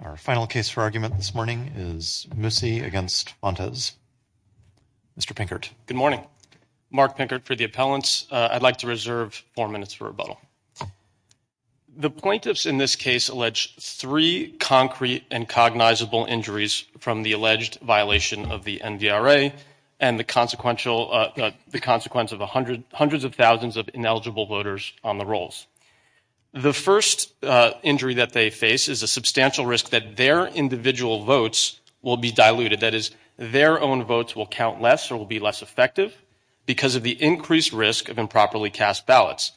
Our final case for argument this morning is Mussi v. Fontes. Mr. Pinkert. Good morning. Mark Pinkert for the appellants. I'd like to reserve four minutes for rebuttal. The plaintiffs in this case alleged three concrete and cognizable injuries from the alleged violation of the NDRA and the consequence of hundreds of thousands of ineligible voters on the rolls. The first injury that they face is a substantial risk that their individual votes will be diluted. That is, their own votes will count less or will be less effective because of the increased risk of improperly cast ballots.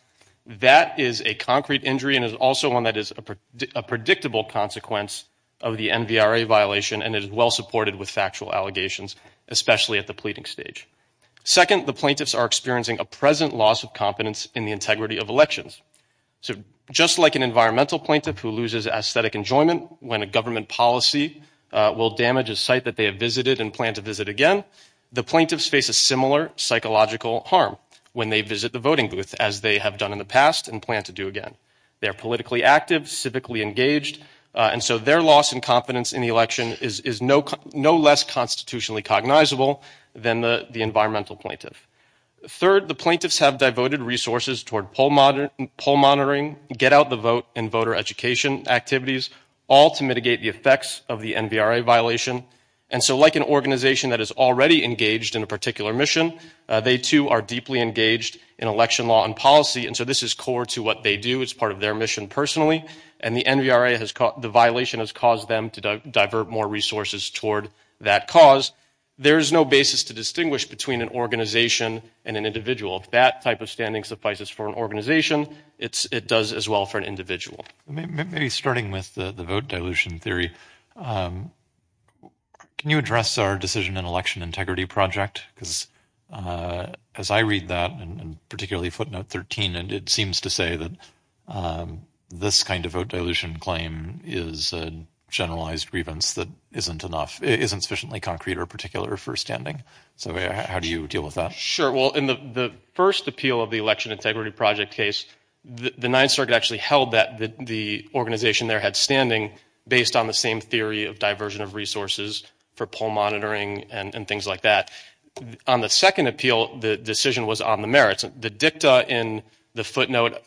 That is a concrete injury and is also one that is a predictable consequence of the NDRA violation and is well supported with factual allegations, especially at the pleading stage. Second, the plaintiffs are experiencing a present loss of confidence in the integrity of elections. So, just like an environmental plaintiff who loses aesthetic enjoyment when a government policy will damage a site that they have visited and plan to visit again, the plaintiffs face a similar psychological harm when they visit the voting booth, as they have done in the past and plan to do again. They're politically active, civically engaged, and so their loss in confidence in the election is no less constitutionally cognizable than the environmental plaintiff. Third, the plaintiffs have devoted resources toward poll monitoring, get-out-the-vote, and voter education activities, all to mitigate the effects of the NDRA violation. And so, like an organization that is already engaged in a particular mission, they, too, are deeply engaged in election law and policy, and so this is core to what they do as part of their mission personally. And the NDRA, the violation has caused them to divert more resources toward that cause. There is no basis to distinguish between an organization and an individual. If that type of standing suffices for an organization, it does as well for an individual. Maybe starting with the vote dilution theory, can you address our decision and election integrity project? Because as I read that, and particularly footnote 13, and it seems to say that this kind of vote dilution claim is a generalized grievance that isn't enough, isn't sufficiently concrete or particular for standing. So how do you deal with that? Well, in the first appeal of the election integrity project case, the Ninth Circuit actually held that the organization there had standing based on the same theory of diversion of resources for poll monitoring and things like that. On the second appeal, the decision was on the merits. The dicta in the footnote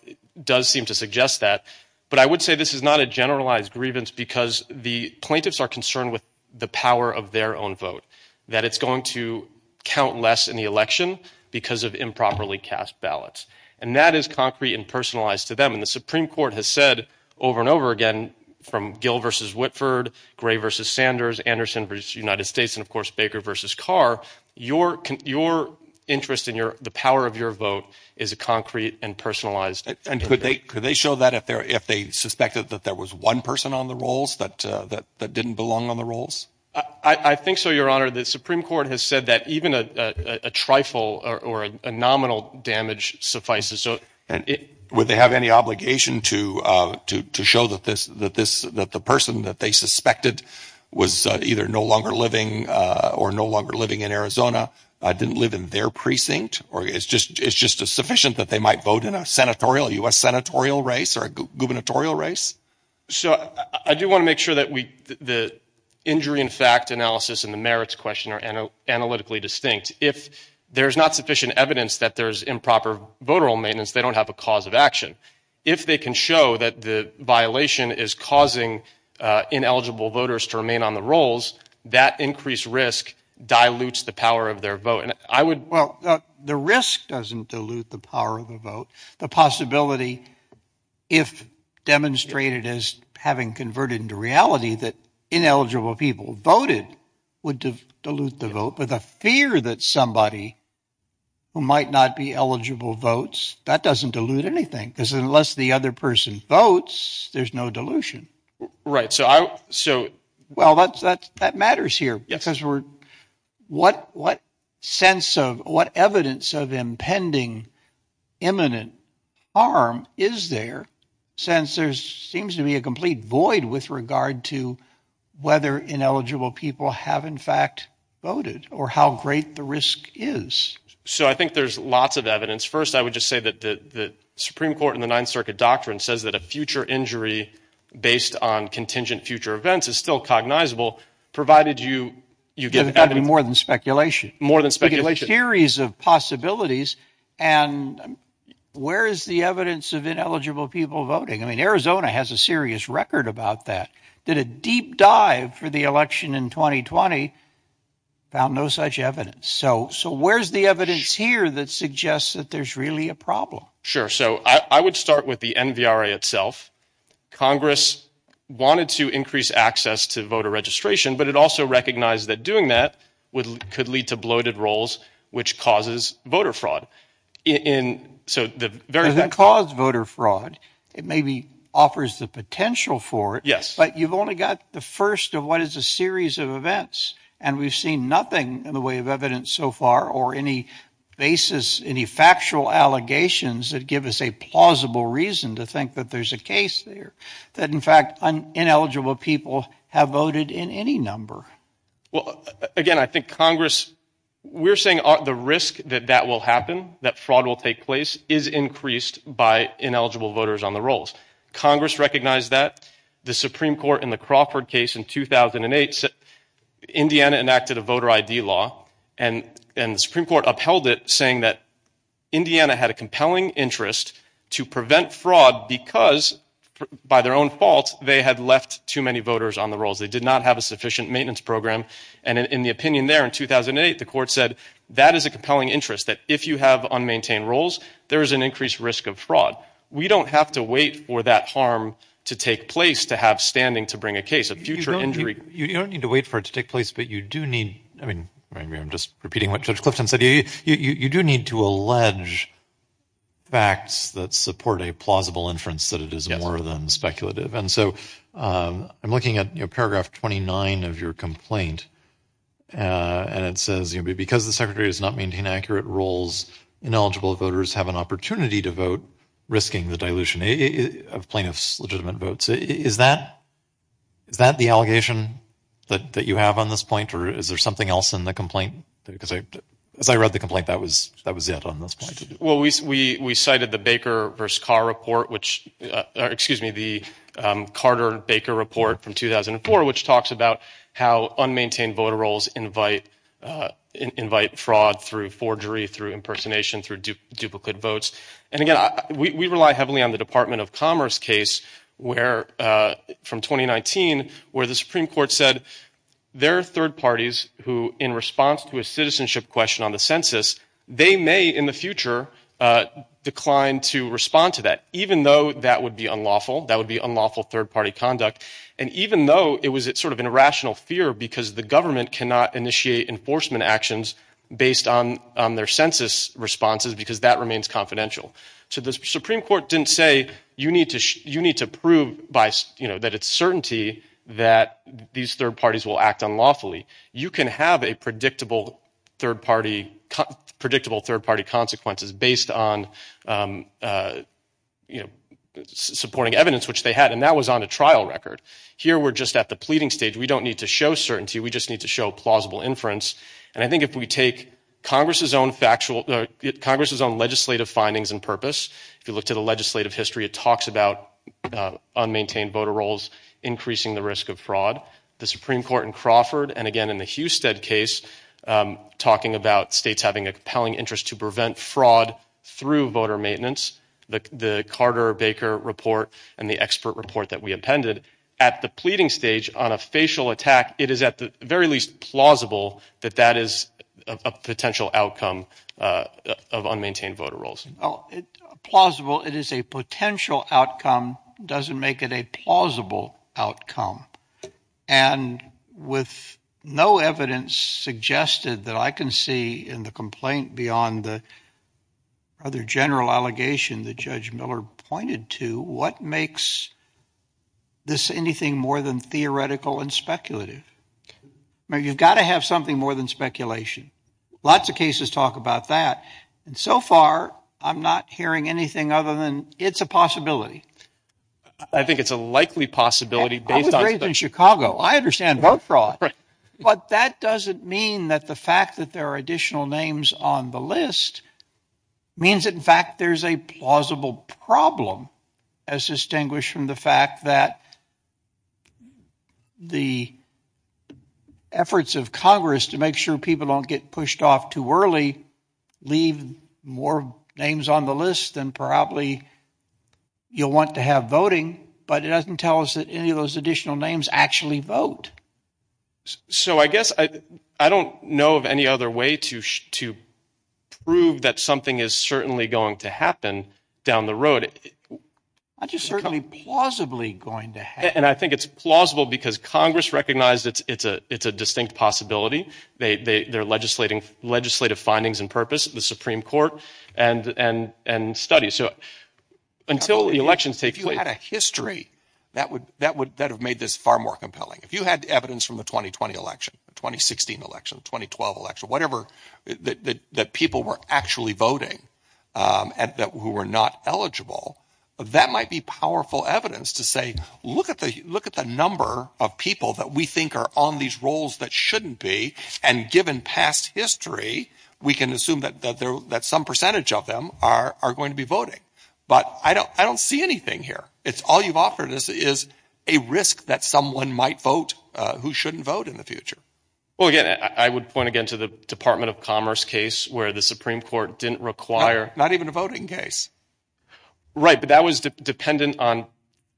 does seem to suggest that, but I would say this is not a generalized grievance because the plaintiffs are concerned with the power of their own vote, that it's going to count less in the election because of improperly cast ballots. And that is concrete and personalized to them, and the Supreme Court has said over and over again, from Gill versus Whitford, Gray versus Sanders, Anderson versus United States, and of course, Baker versus Carr, your interest in the power of your vote is a concrete and personalized. And could they show that if they suspected that there was one person on the rolls that didn't belong on the rolls? I think so, Your Honor. The Supreme Court has said that even a trifle or a nominal damage suffices. And would they have any obligation to show that the person that they suspected was either no longer living or no longer living in Arizona didn't live in their precinct, or it's just a sufficient that they might vote in a senatorial, U.S. senatorial race or a gubernatorial race? So I do want to make sure that the injury and fact analysis and the merits question are analytically distinct. If there's not sufficient evidence that there's improper voter roll maintenance, they don't have a cause of action. If they can show that the violation is causing ineligible voters to remain on the rolls, that increased risk dilutes the power of their vote. And I would... Well, the risk doesn't dilute the power of the vote. The possibility, if demonstrated as having converted into reality, that ineligible people voted would dilute the vote. But the fear that somebody who might not be eligible votes, that doesn't dilute anything because unless the other person votes, there's no dilution. So I... So... Well, that matters here. Yes. Because we're... What sense of... What evidence of impending imminent harm is there since there seems to be a complete void with regard to whether ineligible people have, in fact, voted or how great the risk is? So I think there's lots of evidence. First, I would just say that the Supreme Court in the Ninth Circuit doctrine says that a future injury based on contingent future events is still cognizable, provided you... You get... It's got to be more than speculation. More than speculation. There's a series of possibilities, and where is the evidence of ineligible people voting? I mean, Arizona has a serious record about that. Did a deep dive for the election in 2020, found no such evidence. So where's the evidence here that suggests that there's really a problem? Sure. So I would start with the NVRA itself. Congress wanted to increase access to voter registration, but it also recognized that doing that could lead to bloated rolls, which causes voter fraud. So the very... It doesn't cause voter fraud. It maybe offers the potential for it, but you've only got the first of what is a series of events. And we've seen nothing in the way of evidence so far or any basis, any factual allegations that give us a plausible reason to think that there's a case there, that in fact, ineligible people have voted in any number. Well, again, I think Congress... We're saying the risk that that will happen, that fraud will take place, is increased by ineligible voters on the rolls. Congress recognized that. The Supreme Court in the Crawford case in 2008 said Indiana enacted a voter ID law, and the Supreme Court upheld it, saying that Indiana had a compelling interest to prevent fraud because, by their own fault, they had left too many voters on the rolls. They did not have a sufficient maintenance program. And in the opinion there in 2008, the court said that is a compelling interest, that if you have unmaintained rolls, there is an increased risk of fraud. We don't have to wait for that harm to take place to have standing to bring a case, a future injury... You don't need to wait for it to take place, but you do need... I mean, maybe I'm just repeating what Judge Clifton said. You do need to allege facts that support a plausible inference that it is more than speculative. And so I'm looking at paragraph 29 of your complaint, and it says, because the Secretary does not maintain accurate rolls, ineligible voters have an opportunity to vote, risking the dilution of plaintiffs' legitimate votes. Is that the allegation that you have on this point, or is there something else in the complaint? Because as I read the complaint, that was it on this point. Well, we cited the Baker v. Carr report, which, excuse me, the Carter-Baker report from 2004, which talks about how unmaintained voter rolls invite fraud through forgery, through impersonation, through duplicate votes. And again, we rely heavily on the Department of Commerce case from 2019, where the Supreme Court said, there are third parties who, in response to a citizenship question on the census, they may, in the future, decline to respond to that, even though that would be unlawful. That would be unlawful third-party conduct. And even though it was sort of an irrational fear, because the government cannot initiate enforcement actions based on their census responses, because that remains confidential. So the Supreme Court didn't say, you need to prove that it's certainty that these third parties will act unlawfully. You can have a predictable third-party consequences based on supporting evidence, which they had. And that was on a trial record. Here we're just at the pleading stage. We don't need to show certainty. We just need to show plausible inference. And I think if we take Congress's own legislative findings and purpose, if you look to the legislative history, it talks about unmaintained voter rolls increasing the risk of fraud. The Supreme Court in Crawford, and again in the Husted case, talking about states having a compelling interest to prevent fraud through voter maintenance, the Carter-Baker report and the expert report that we appended, at the pleading stage on a facial attack, it is at the very least plausible that that is a potential outcome of unmaintained voter rolls. Well, plausible, it is a potential outcome, doesn't make it a plausible outcome. And with no evidence suggested that I can see in the complaint beyond the rather general allegation that Judge Miller pointed to, what makes this anything more than theoretical and speculative? I mean, you've got to have something more than speculation. Lots of cases talk about that. And so far, I'm not hearing anything other than it's a possibility. I think it's a likely possibility based on— I was raised in Chicago. I understand vote fraud. But that doesn't mean that the fact that there are additional names on the list means in fact there's a plausible problem, as distinguished from the fact that the efforts of Congress to make sure people don't get pushed off too early leave more names on the list than probably you'll want to have voting. But it doesn't tell us that any of those additional names actually vote. So I guess I don't know of any other way to prove that something is certainly going to happen down the road. It's certainly plausibly going to happen. And I think it's plausible because Congress recognized it's a distinct possibility. They're legislating legislative findings and purpose, the Supreme Court, and studies. So until the elections take place— If you had a history that would have made this far more compelling. If you had evidence from the 2020 election, 2016 election, 2012 election, whatever, that people were actually voting who were not eligible, that might be powerful evidence to say, look at the number of people that we think are on these rolls that shouldn't be. And given past history, we can assume that some percentage of them are going to be voting. But I don't see anything here. All you've offered is a risk that someone might vote who shouldn't vote in the future. Well, again, I would point again to the Department of Commerce case where the Supreme Court didn't require— Not even a voting case. Right. But that was dependent on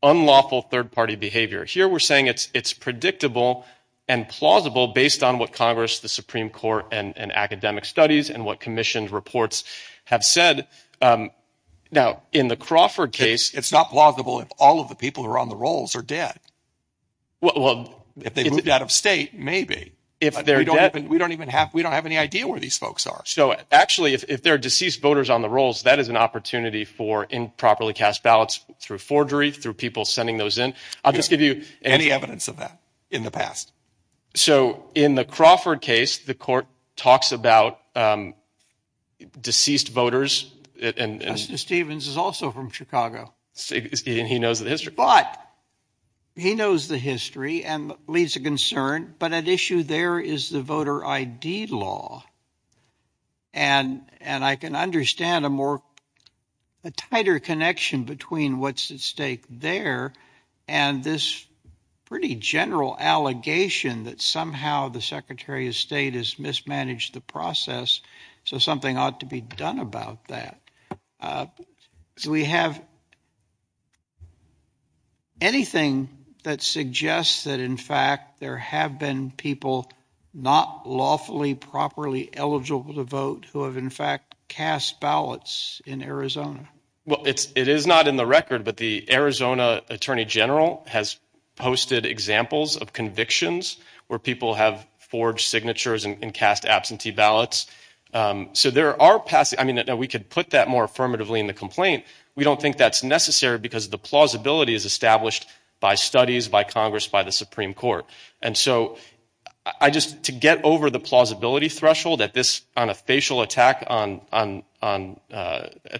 unlawful third-party behavior. Here we're saying it's predictable and plausible based on what Congress, the Supreme Court, and academic studies and what commissioned reports have said. Now, in the Crawford case— It's not plausible if all of the people who are on the rolls are dead. Well— If they moved out of state, maybe. If they're dead— We don't even have—we don't have any idea where these folks are. So actually, if there are deceased voters on the rolls, that is an opportunity for improperly cast ballots through forgery, through people sending those in. I'll just give you— Any evidence of that in the past. So in the Crawford case, the court talks about deceased voters and— Mr. Stevens is also from Chicago. He knows the history. But he knows the history and leaves a concern. But at issue there is the voter ID law. And I can understand a more—a tighter connection between what's at stake there and this pretty general allegation that somehow the Secretary of State has mismanaged the process, so something ought to be done about that. Do we have anything that suggests that, in fact, there have been people not lawfully, properly eligible to vote who have, in fact, cast ballots in Arizona? Well, it is not in the record, but the Arizona Attorney General has posted examples of convictions where people have forged signatures and cast absentee ballots. So there are—I mean, we could put that more affirmatively in the complaint. We don't think that's necessary because the plausibility is established by studies, by Congress, by the Supreme Court. And so I just—to get over the plausibility threshold at this—on a facial attack at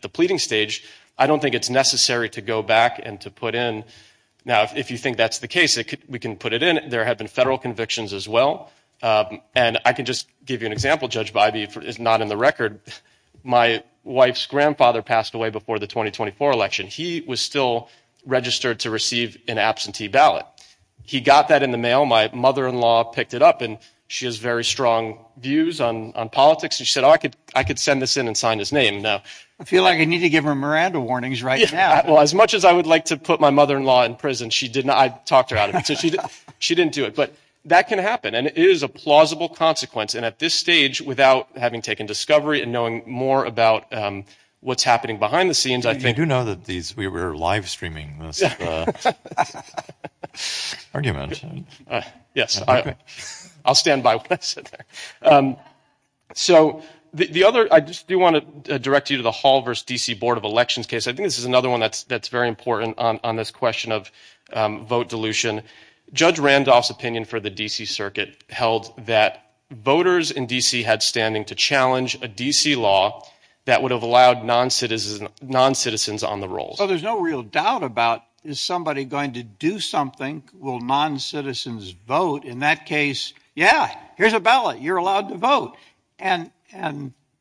the pleading stage, I don't think it's necessary to go back and to put in—now, if you think that's the case, we can put it in. There have been federal convictions as well. And I can just give you an example, Judge Bybee, if it's not in the record. My wife's grandfather passed away before the 2024 election. He was still registered to receive an absentee ballot. He got that in the mail. My mother-in-law picked it up, and she has very strong views on politics, and she said, oh, I could send this in and sign his name. Now— I feel like I need to give her Miranda warnings right now. Well, as much as I would like to put my mother-in-law in prison, she did not. I talked her out of it. She didn't do it. But that can happen. And it is a plausible consequence. And at this stage, without having taken discovery and knowing more about what's happening behind the scenes, I think— You do know that these—we were live streaming this argument. Yes. I'll stand by what I said there. So the other—I just do want to direct you to the Hall v. D.C. Board of Elections case. I think this is another one that's very important on this question of vote dilution. Judge Randolph's opinion for the D.C. Circuit held that voters in D.C. had standing to challenge a D.C. law that would have allowed noncitizens on the rolls. Well, there's no real doubt about, is somebody going to do something? Will noncitizens vote? In that case, yeah, here's a ballot. You're allowed to vote. And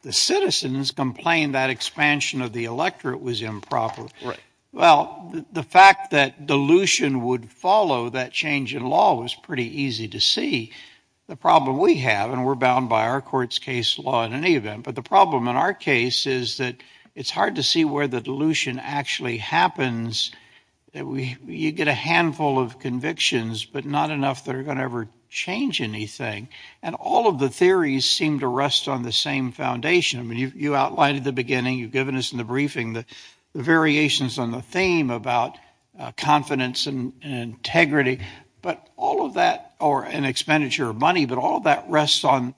the citizens complained that expansion of the electorate was improper. Right. Well, the fact that dilution would follow that change in law was pretty easy to see. The problem we have—and we're bound by our court's case law in any event—but the problem in our case is that it's hard to see where the dilution actually happens. You get a handful of convictions, but not enough that are going to ever change anything. And all of the theories seem to rest on the same foundation. You outlined at the beginning, you've given us in the briefing the variations on the theme about confidence and integrity. But all of that—or an expenditure of money—but all of that rests on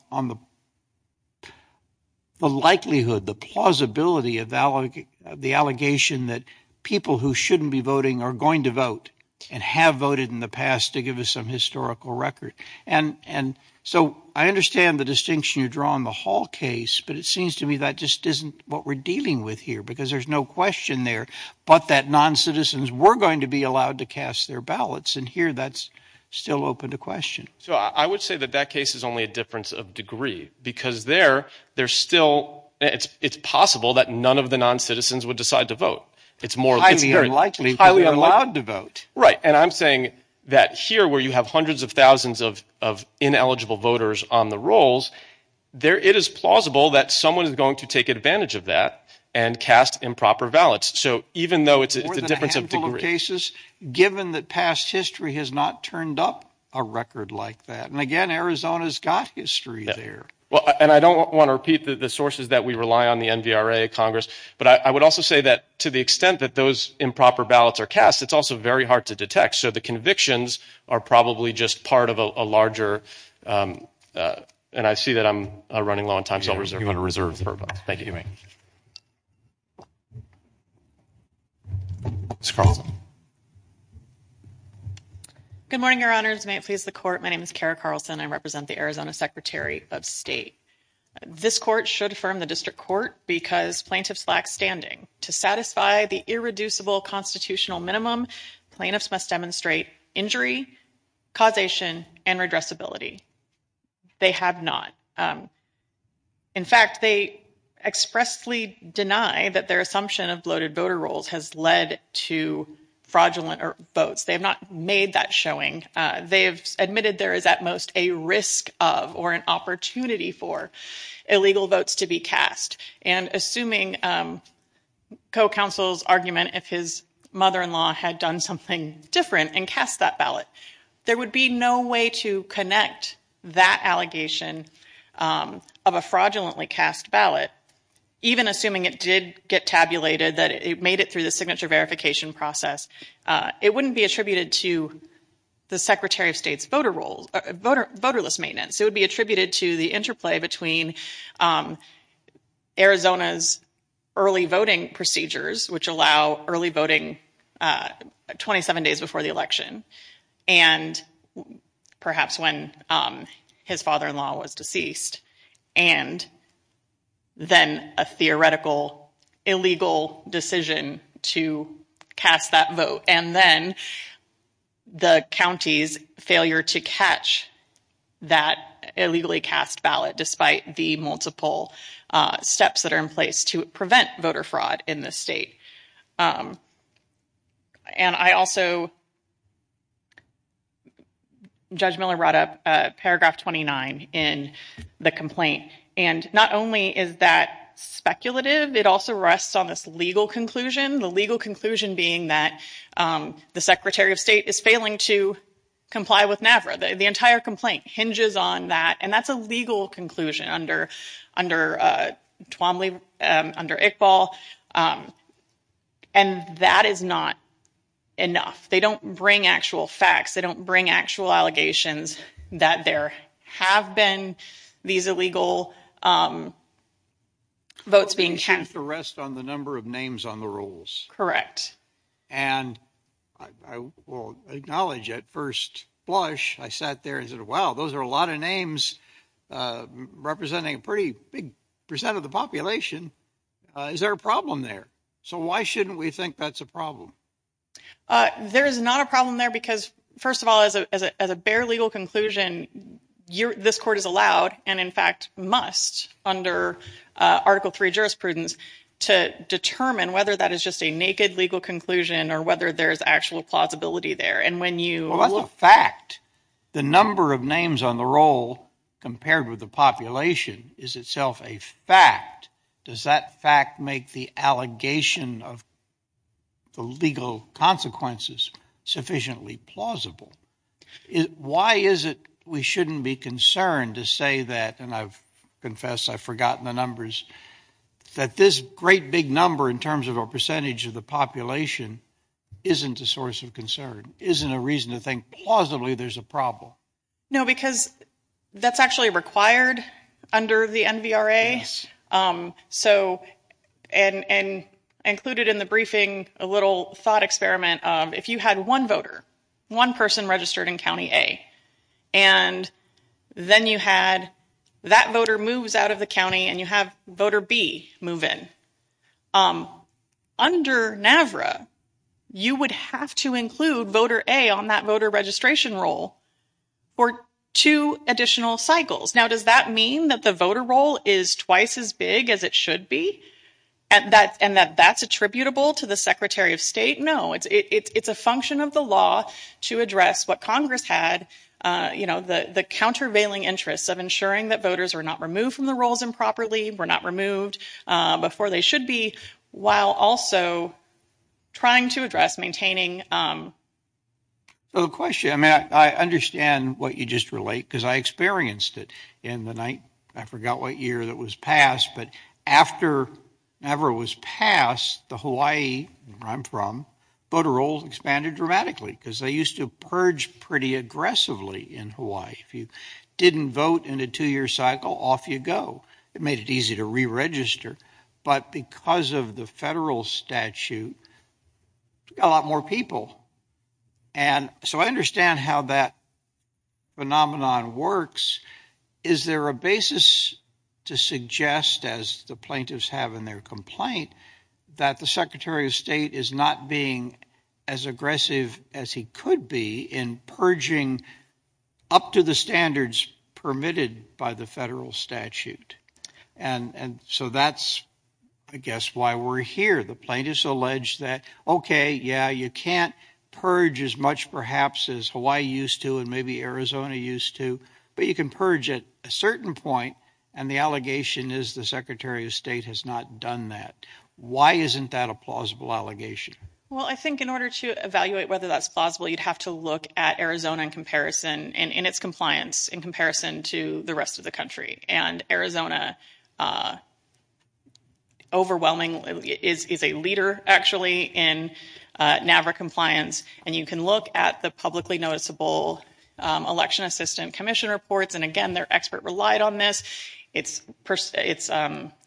the likelihood, the plausibility of the allegation that people who shouldn't be voting are going to vote and have voted in the past to give us some historical record. And so I understand the distinction you draw in the Hall case, but it seems to me that just isn't what we're dealing with here, because there's no question there but that non-citizens were going to be allowed to cast their ballots, and here that's still open to question. So I would say that that case is only a difference of degree, because there, there's still—it's possible that none of the non-citizens would decide to vote. It's highly unlikely that we're allowed to vote. Right. And I'm saying that here, where you have hundreds of thousands of ineligible voters on the rolls, it is plausible that someone is going to take advantage of that and cast improper ballots. So even though it's a difference of degree— More than a handful of cases, given that past history has not turned up a record like that. And again, Arizona's got history there. And I don't want to repeat the sources that we rely on, the NVRA, Congress, but I would also say that to the extent that those improper ballots are cast, it's also very hard to detect. So the convictions are probably just part of a larger—and I see that I'm running low on time, so I'll reserve— You want to reserve the vote. Thank you. You may. Ms. Carlson. Good morning, Your Honors. May it please the Court, my name is Kara Carlson, and I represent the Arizona Secretary of State. This Court should affirm the District Court because plaintiffs lack standing. To satisfy the irreducible constitutional minimum, plaintiffs must demonstrate injury, causation, and redressability. They have not. In fact, they expressly deny that their assumption of bloated voter rolls has led to fraudulent votes. They have not made that showing. They have admitted there is at most a risk of, or an opportunity for, illegal votes to be cast. And assuming co-counsel's argument, if his mother-in-law had done something different and cast that ballot, there would be no way to connect that allegation of a fraudulently cast ballot, even assuming it did get tabulated, that it made it through the signature verification process. It wouldn't be attributed to the Secretary of State's voter rolls, voterless maintenance. It would be attributed to the interplay between Arizona's early voting procedures, which allow early voting 27 days before the election, and perhaps when his father-in-law was deceased, and then a theoretical illegal decision to cast that vote, and then the county's failure to catch that illegally cast ballot, despite the multiple steps that are in place to prevent voter fraud in this state. And I also, Judge Miller brought up paragraph 29 in the complaint. And not only is that speculative, it also rests on this legal conclusion, the legal Secretary of State is failing to comply with NAFRA. The entire complaint hinges on that, and that's a legal conclusion under Iqbal, and that is not enough. They don't bring actual facts, they don't bring actual allegations that there have been these illegal votes being cast. And that leaves the rest on the number of names on the rolls. Correct. And I will acknowledge, at first blush, I sat there and said, wow, those are a lot of names representing a pretty big percent of the population. Is there a problem there? So why shouldn't we think that's a problem? There is not a problem there because, first of all, as a bare legal conclusion, this court is allowed and, in fact, must, under Article III jurisprudence, to determine whether that is just a naked legal conclusion or whether there's actual plausibility there. And when you... Well, that's a fact. The number of names on the roll compared with the population is itself a fact. Does that fact make the allegation of the legal consequences sufficiently plausible? Why is it we shouldn't be concerned to say that, and I've confessed, I've forgotten the numbers, that this great big number in terms of a percentage of the population isn't a source of concern, isn't a reason to think plausibly there's a problem? No, because that's actually required under the NVRA. So and included in the briefing, a little thought experiment of if you had one voter, one person registered in County A, and then you had that voter moves out of the county and you have voter B move in, under NVRA, you would have to include voter A on that voter registration roll for two additional cycles. Now, does that mean that the voter roll is twice as big as it should be and that that's attributable to the Secretary of State? No, it's a function of the law to address what Congress had, you know, the the countervailing interests of ensuring that voters are not removed from the rolls improperly, were not removed before they should be, while also trying to address maintaining. So the question, I mean, I understand what you just relate, because I experienced it in the night, I forgot what year that was passed, but after NVRA was passed, the Hawaii where I'm from, voter rolls expanded dramatically because they used to purge pretty aggressively in Hawaii. If you didn't vote in a two-year cycle, off you go. It made it easy to re-register. But because of the federal statute, a lot more people. And so I understand how that phenomenon works. Is there a basis to suggest, as the plaintiffs have in their complaint, that the Secretary of State is not being as aggressive as he could be in purging up to the standards permitted by the federal statute? And so that's, I guess, why we're here. The plaintiffs allege that, okay, yeah, you can't purge as much, perhaps, as Hawaii used to and maybe Arizona used to, but you can purge at a certain point, and the allegation is the Secretary of State has not done that. Why isn't that a plausible allegation? Well, I think in order to evaluate whether that's plausible, you'd have to look at Arizona in comparison, in its compliance, in comparison to the rest of the country. And Arizona overwhelmingly is a leader, actually, in NAVRA compliance, and you can look at the publicly noticeable Election Assistant Commission reports, and again, their expert relied on this.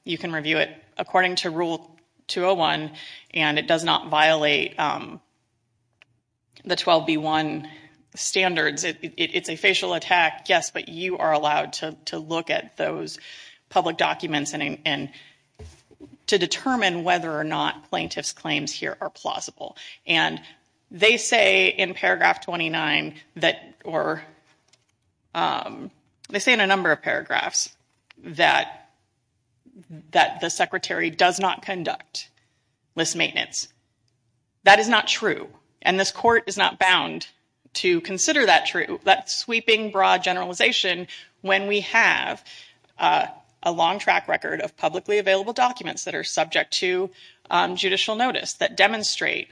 You can review it according to Rule 201, and it does not violate the 12B1 standards. It's a facial attack, yes, but you are allowed to look at those public documents to determine whether or not plaintiffs' claims here are plausible. And they say in paragraph 29, or they say in a number of paragraphs, that the Secretary does not conduct list maintenance. That is not true, and this Court is not bound to consider that sweeping, broad generalization when we have a long track record of publicly available documents that are subject to judicial notice, that demonstrate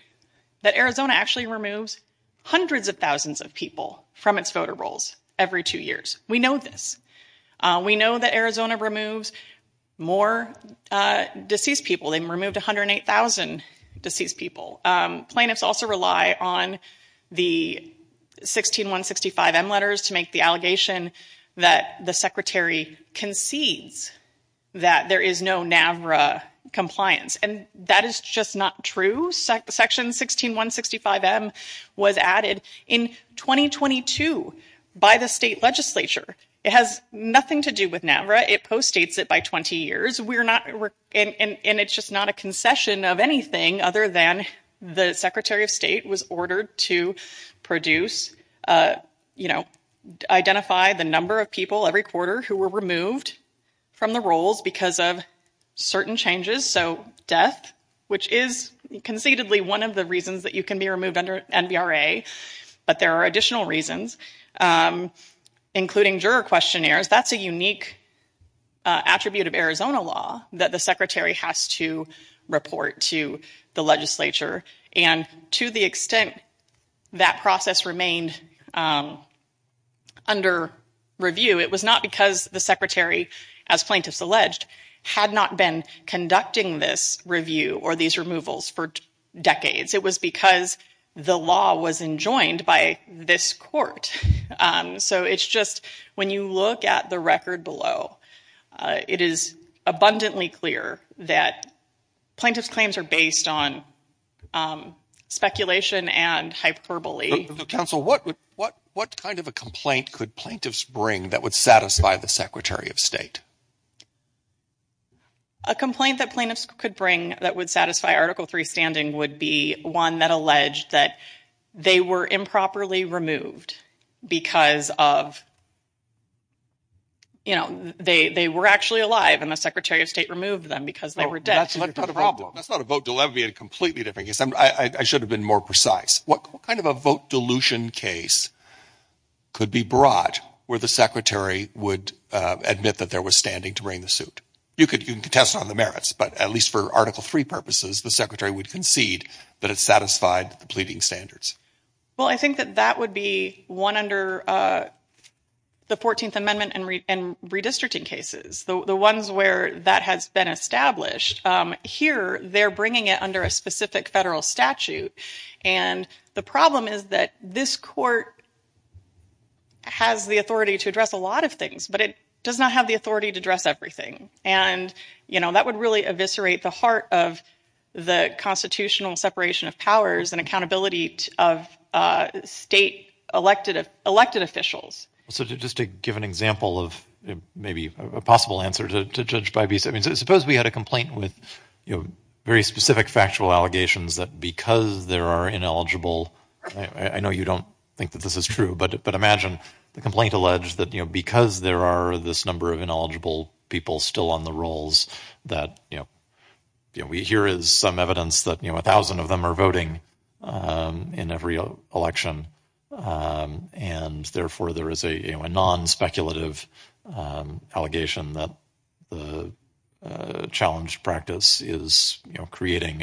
that Arizona actually removes hundreds of thousands of people from its voter rolls every two years. We know this. We know that Arizona removes more deceased people, they removed 108,000 deceased people. Plaintiffs also rely on the 16165M letters to make the allegation that the Secretary concedes that there is no NAVRA compliance, and that is just not true. Section 16165M was added in 2022 by the state legislature. It has nothing to do with NAVRA, it postdates it by 20 years, and it's just not a concession of anything other than the Secretary of State was ordered to produce, you know, identify the number of people every quarter who were removed from the rolls because of certain changes, so death, which is conceitedly one of the reasons that you can be removed under NAVRA, but there are additional reasons, including juror questionnaires. That's a unique attribute of Arizona law that the Secretary has to report to the legislature, and to the extent that process remained under review, it was not because the Secretary, as plaintiffs alleged, had not been conducting this review or these removals for decades. It was because the law was enjoined by this court. So it's just, when you look at the record below, it is abundantly clear that plaintiffs' claims are based on speculation and hyperbole. But counsel, what kind of a complaint could plaintiffs bring that would satisfy the Secretary of State? A complaint that plaintiffs could bring that would satisfy Article III standing would be one that alleged that they were improperly removed because of, you know, they were actually alive, and the Secretary of State removed them because they were dead. That's not a vote delivered in a completely different case. I should have been more precise. What kind of a vote dilution case could be brought where the Secretary would admit that there was standing to bring the suit? You could contest on the merits, but at least for Article III purposes, the Secretary would concede that it satisfied the pleading standards. Well, I think that that would be one under the 14th Amendment and redistricting cases. The ones where that has been established, here they're bringing it under a specific federal statute. And the problem is that this court has the authority to address a lot of things, but it does not have the authority to address everything. And you know, that would really eviscerate the heart of the constitutional separation of powers and accountability of state elected officials. So just to give an example of maybe a possible answer to Judge Bybee's, I mean, suppose we had a complaint with, you know, very specific factual allegations that because there are ineligible, I know you don't think that this is true, but imagine the complaint alleged that, you know, because there are this number of ineligible people still on the rolls that, you know, we hear is some evidence that, you know, a thousand of them are voting in every election. And therefore there is a non-speculative allegation that the challenged practice is, you know, creating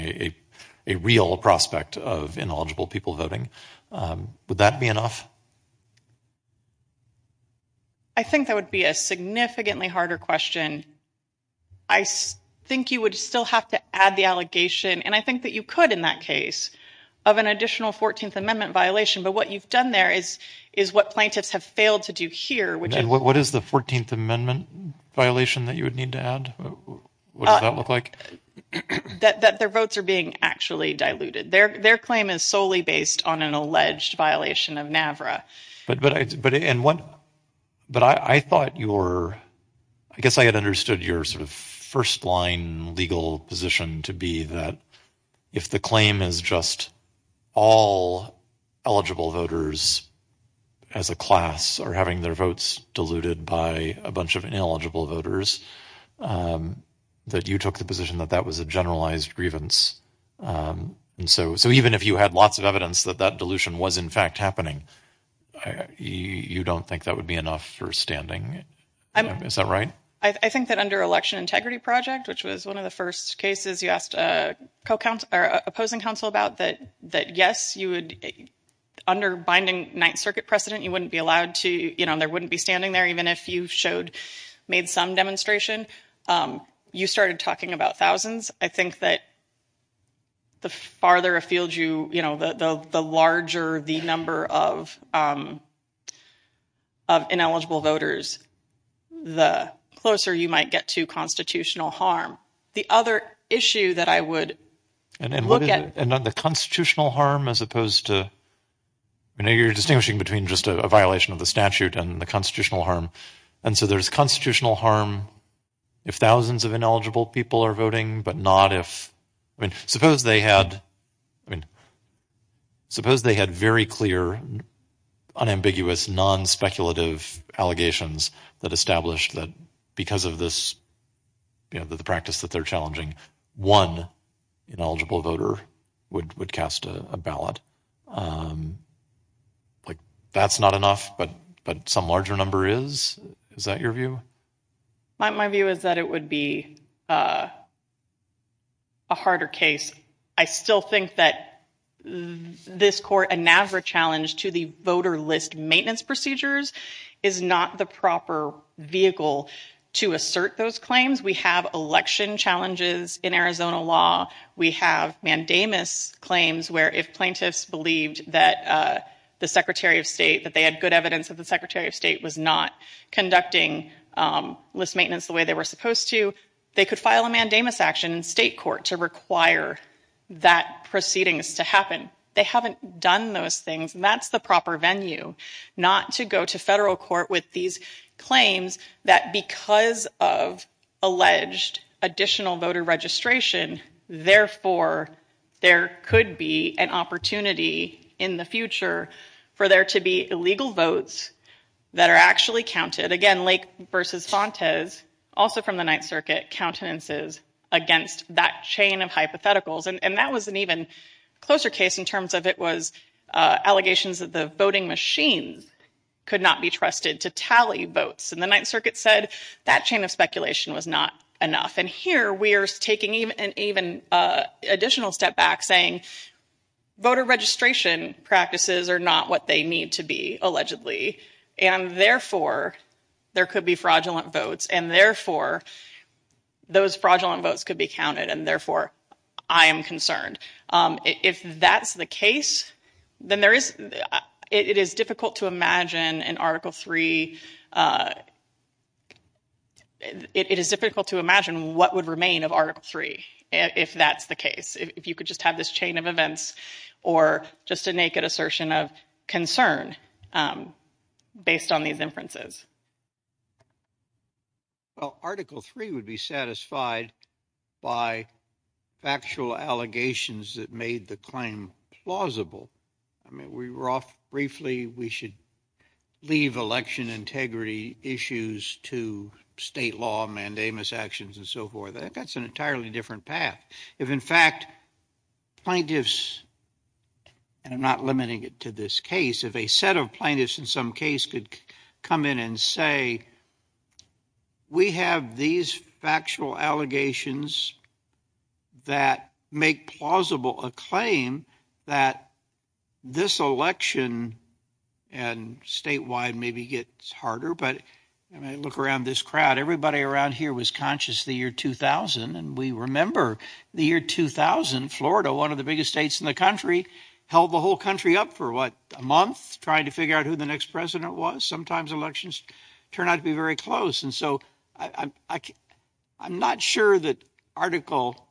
a real prospect of ineligible people voting. Would that be enough? I think that would be a significantly harder question. I think you would still have to add the allegation, and I think that you could in that case, of an additional 14th Amendment violation, but what you've done there is what plaintiffs have failed to do here. What is the 14th Amendment violation that you would need to add? What does that look like? That their votes are being actually diluted. Their claim is solely based on an alleged violation of NAVRA. But I thought your, I guess I had understood your sort of first line legal position to be that if the claim is just all eligible voters as a class are having their votes diluted by a bunch of ineligible voters, that you took the position that that was a generalized grievance. And so, so even if you had lots of evidence that that dilution was in fact happening, you don't think that would be enough for standing? Is that right? I think that under Election Integrity Project, which was one of the first cases you asked opposing counsel about, that yes, you would, under binding Ninth Circuit precedent, you wouldn't be allowed to, you know, there wouldn't be standing there even if you showed, made some demonstration. You started talking about thousands. I think that the farther afield you, you know, the larger the number of ineligible voters, the closer you might get to constitutional harm. The other issue that I would look at. And the constitutional harm as opposed to, you know, you're distinguishing between just a violation of the statute and the constitutional harm. And so there's constitutional harm if thousands of ineligible people are voting, but not if, I mean, suppose they had, I mean, suppose they had very clear, unambiguous, non-speculative allegations that established that because of this, you know, the practice that they're challenging, one ineligible voter would cast a ballot. Like, that's not enough, but some larger number is? Is that your view? My view is that it would be a harder case. I still think that this court, a NAVRA challenge to the voter list maintenance procedures is not the proper vehicle to assert those claims. We have election challenges in Arizona law. We have mandamus claims where if plaintiffs believed that the Secretary of State, that they were doing list maintenance the way they were supposed to, they could file a mandamus action in state court to require that proceedings to happen. They haven't done those things, and that's the proper venue, not to go to federal court with these claims that because of alleged additional voter registration, therefore, there could be an opportunity in the future for there to be illegal votes that are actually counted. Again, Lake v. Fontes, also from the Ninth Circuit, countenances against that chain of hypotheticals, and that was an even closer case in terms of it was allegations that the voting machines could not be trusted to tally votes, and the Ninth Circuit said that chain of speculation was not enough, and here we are taking an even additional step back saying voter registration practices are not what they need to be, allegedly, and therefore, there could be fraudulent votes, and therefore, those fraudulent votes could be counted, and therefore, I am concerned. If that's the case, then there is, it is difficult to imagine an Article III, it is difficult to imagine what would remain of Article III if that's the case. If you could just have this chain of events or just a naked assertion of concern based on these inferences. Well, Article III would be satisfied by factual allegations that made the claim plausible. I mean, we were off briefly, we should leave election integrity issues to state law, mandamus actions and so forth. That's an entirely different path. If, in fact, plaintiffs, and I'm not limiting it to this case, if a set of plaintiffs in some case could come in and say, we have these factual allegations that make plausible a claim that this election, and statewide maybe gets harder, but I mean, look around this crowd. Everybody around here was conscious the year 2000, and we remember the year 2000, Florida, one of the biggest states in the country, held the whole country up for, what, a month trying to figure out who the next president was. Sometimes elections turn out to be very close, and so I'm not sure that Article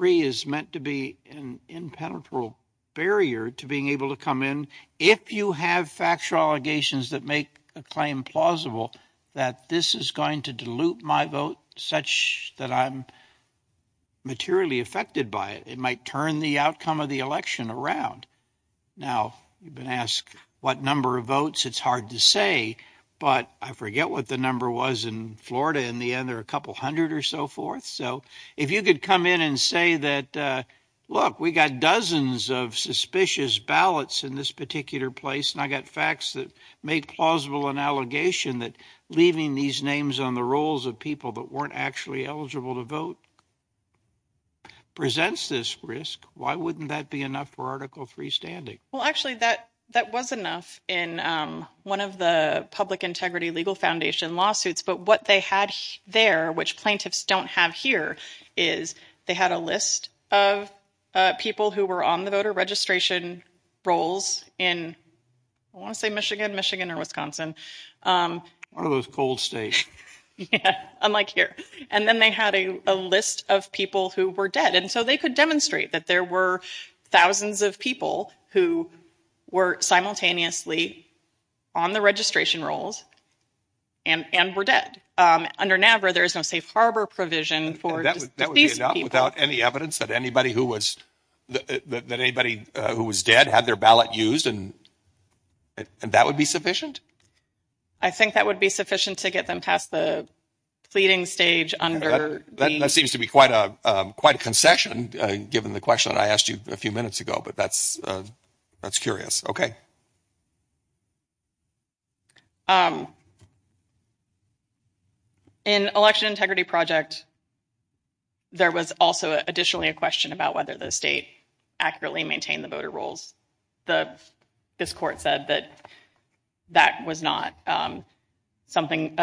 III is meant to be an impenetrable barrier to being able to come in if you have factual allegations that make a claim plausible that this is going to dilute my vote such that I'm materially affected by it. It might turn the outcome of the election around. Now, you've been asked what number of votes, it's hard to say, but I forget what the number was in Florida, in the end there were a couple hundred or so forth. So if you could come in and say that, look, we got dozens of suspicious ballots in this particular place, and I got facts that make plausible an allegation that leaving these names on the rolls of people that weren't actually eligible to vote presents this risk, why wouldn't that be enough for Article III standing? Well, actually, that was enough in one of the Public Integrity Legal Foundation lawsuits, but what they had there, which plaintiffs don't have here, is they had a list of people who were on the voter registration rolls in, I want to say Michigan, Michigan, or Wisconsin. One of those cold states. Yeah, unlike here. And then they had a list of people who were dead, and so they could demonstrate that there were thousands of people who were simultaneously on the registration rolls and were dead. Under NAVRA, there is no safe harbor provision for these people. So that would be enough without any evidence that anybody who was dead had their ballot used, and that would be sufficient? I think that would be sufficient to get them past the pleading stage under the... That seems to be quite a concession, given the question I asked you a few minutes ago, but that's curious. Okay. So, in Election Integrity Project, there was also additionally a question about whether the state accurately maintained the voter rolls. This court said that that was not something,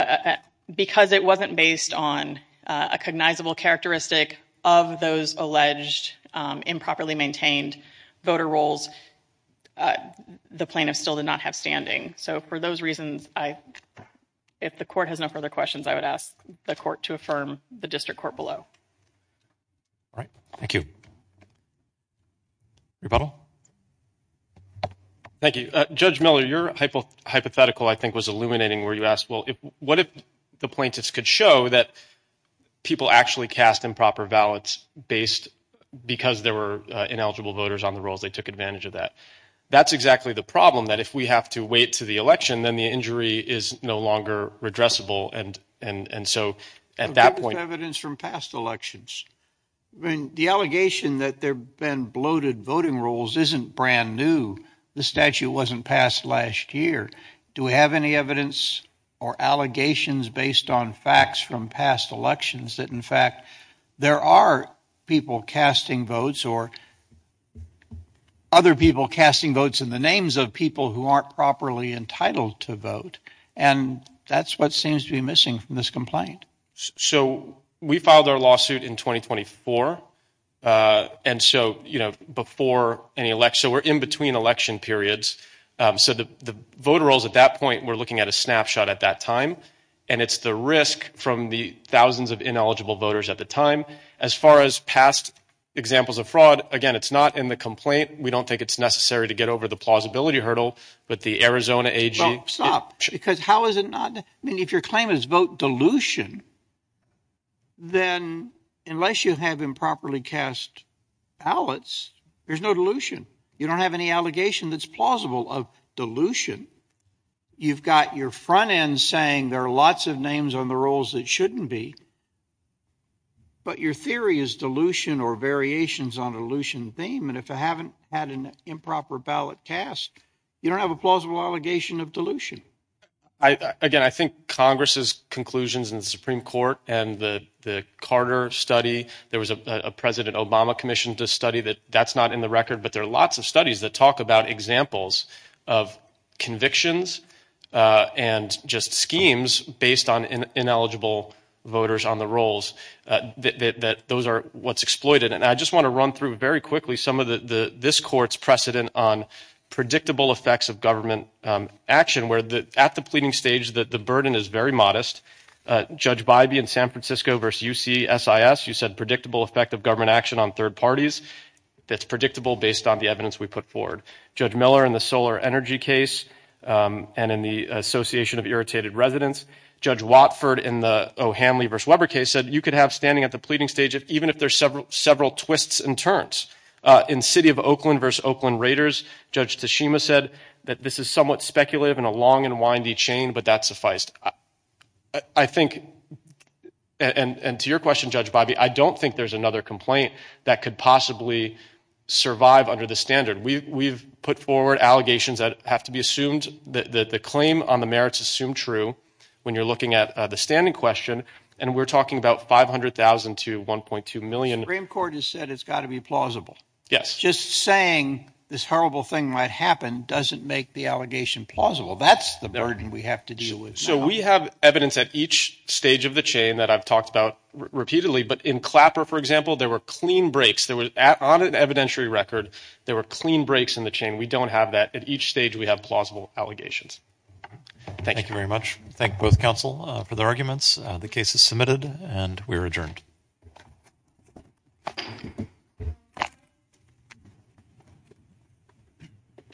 because it wasn't based on a cognizable characteristic of those alleged improperly maintained voter rolls, the plaintiffs still did not have standing. So, for those reasons, if the court has no further questions, I would ask the court to affirm the district court below. All right. Thank you. Rebuttal? Thank you. Judge Miller, your hypothetical, I think, was illuminating, where you asked, well, what if the plaintiffs could show that people actually cast improper ballots based... Because there were ineligible voters on the rolls, they took advantage of that. That's exactly the problem, that if we have to wait to the election, then the injury is no longer redressable. And so, at that point... What about evidence from past elections? The allegation that there have been bloated voting rolls isn't brand new. The statute wasn't passed last year. Do we have any evidence or allegations based on facts from past elections that, in fact, there are people casting votes or other people casting votes in the names of people who aren't properly entitled to vote? And that's what seems to be missing from this complaint. So, we filed our lawsuit in 2024. And so, before any election... So, we're in between election periods. So, the voter rolls at that point, we're looking at a snapshot at that time. And it's the risk from the thousands of ineligible voters at the time. As far as past examples of fraud, again, it's not in the complaint. We don't think it's necessary to get over the plausibility hurdle. But the Arizona AG... Well, stop. Because how is it not... I mean, if your claim is vote dilution, then unless you have improperly cast ballots, there's no dilution. You don't have any allegation that's plausible of dilution. You've got your front end saying there are lots of names on the rolls that shouldn't be. But your theory is dilution or variations on a dilution theme. And if I haven't had an improper ballot cast, you don't have a plausible allegation of dilution. Again, I think Congress's conclusions in the Supreme Court and the Carter study... There was a President Obama commission to study that. That's not in the record. But there are lots of studies that talk about examples of convictions and just schemes based on ineligible voters on the rolls. Those are what's exploited. And I just want to run through very quickly some of this court's precedent on predictable effects of government action, where at the pleading stage, the burden is very modest. Judge Bybee in San Francisco versus UCSIS, you said predictable effect of government action on third parties that's predictable based on the evidence we put forward. Judge Miller in the solar energy case and in the Association of Irritated Residents. Judge Watford in the O'Hanley versus Weber case said you could have standing at the pleading stage even if there's several twists and turns. In City of Oakland versus Oakland Raiders, Judge Tashima said that this is somewhat speculative and a long and windy chain, but that's sufficed. I think and to your question, Judge Bybee, I don't think there's another complaint that could possibly survive under the standard. We've put forward allegations that have to be assumed that the claim on the merits assumed true when you're looking at the standing question. And we're talking about $500,000 to $1.2 million. Supreme Court has said it's got to be plausible. Yes. Just saying this horrible thing might happen doesn't make the allegation plausible. That's the burden we have to deal with. We have evidence at each stage of the chain that I've talked about repeatedly, but in Clapper, for example, there were clean breaks. On an evidentiary record, there were clean breaks in the chain. We don't have that. At each stage, we have plausible allegations. Thank you very much. Thank both counsel for their arguments. The case is submitted and we are adjourned.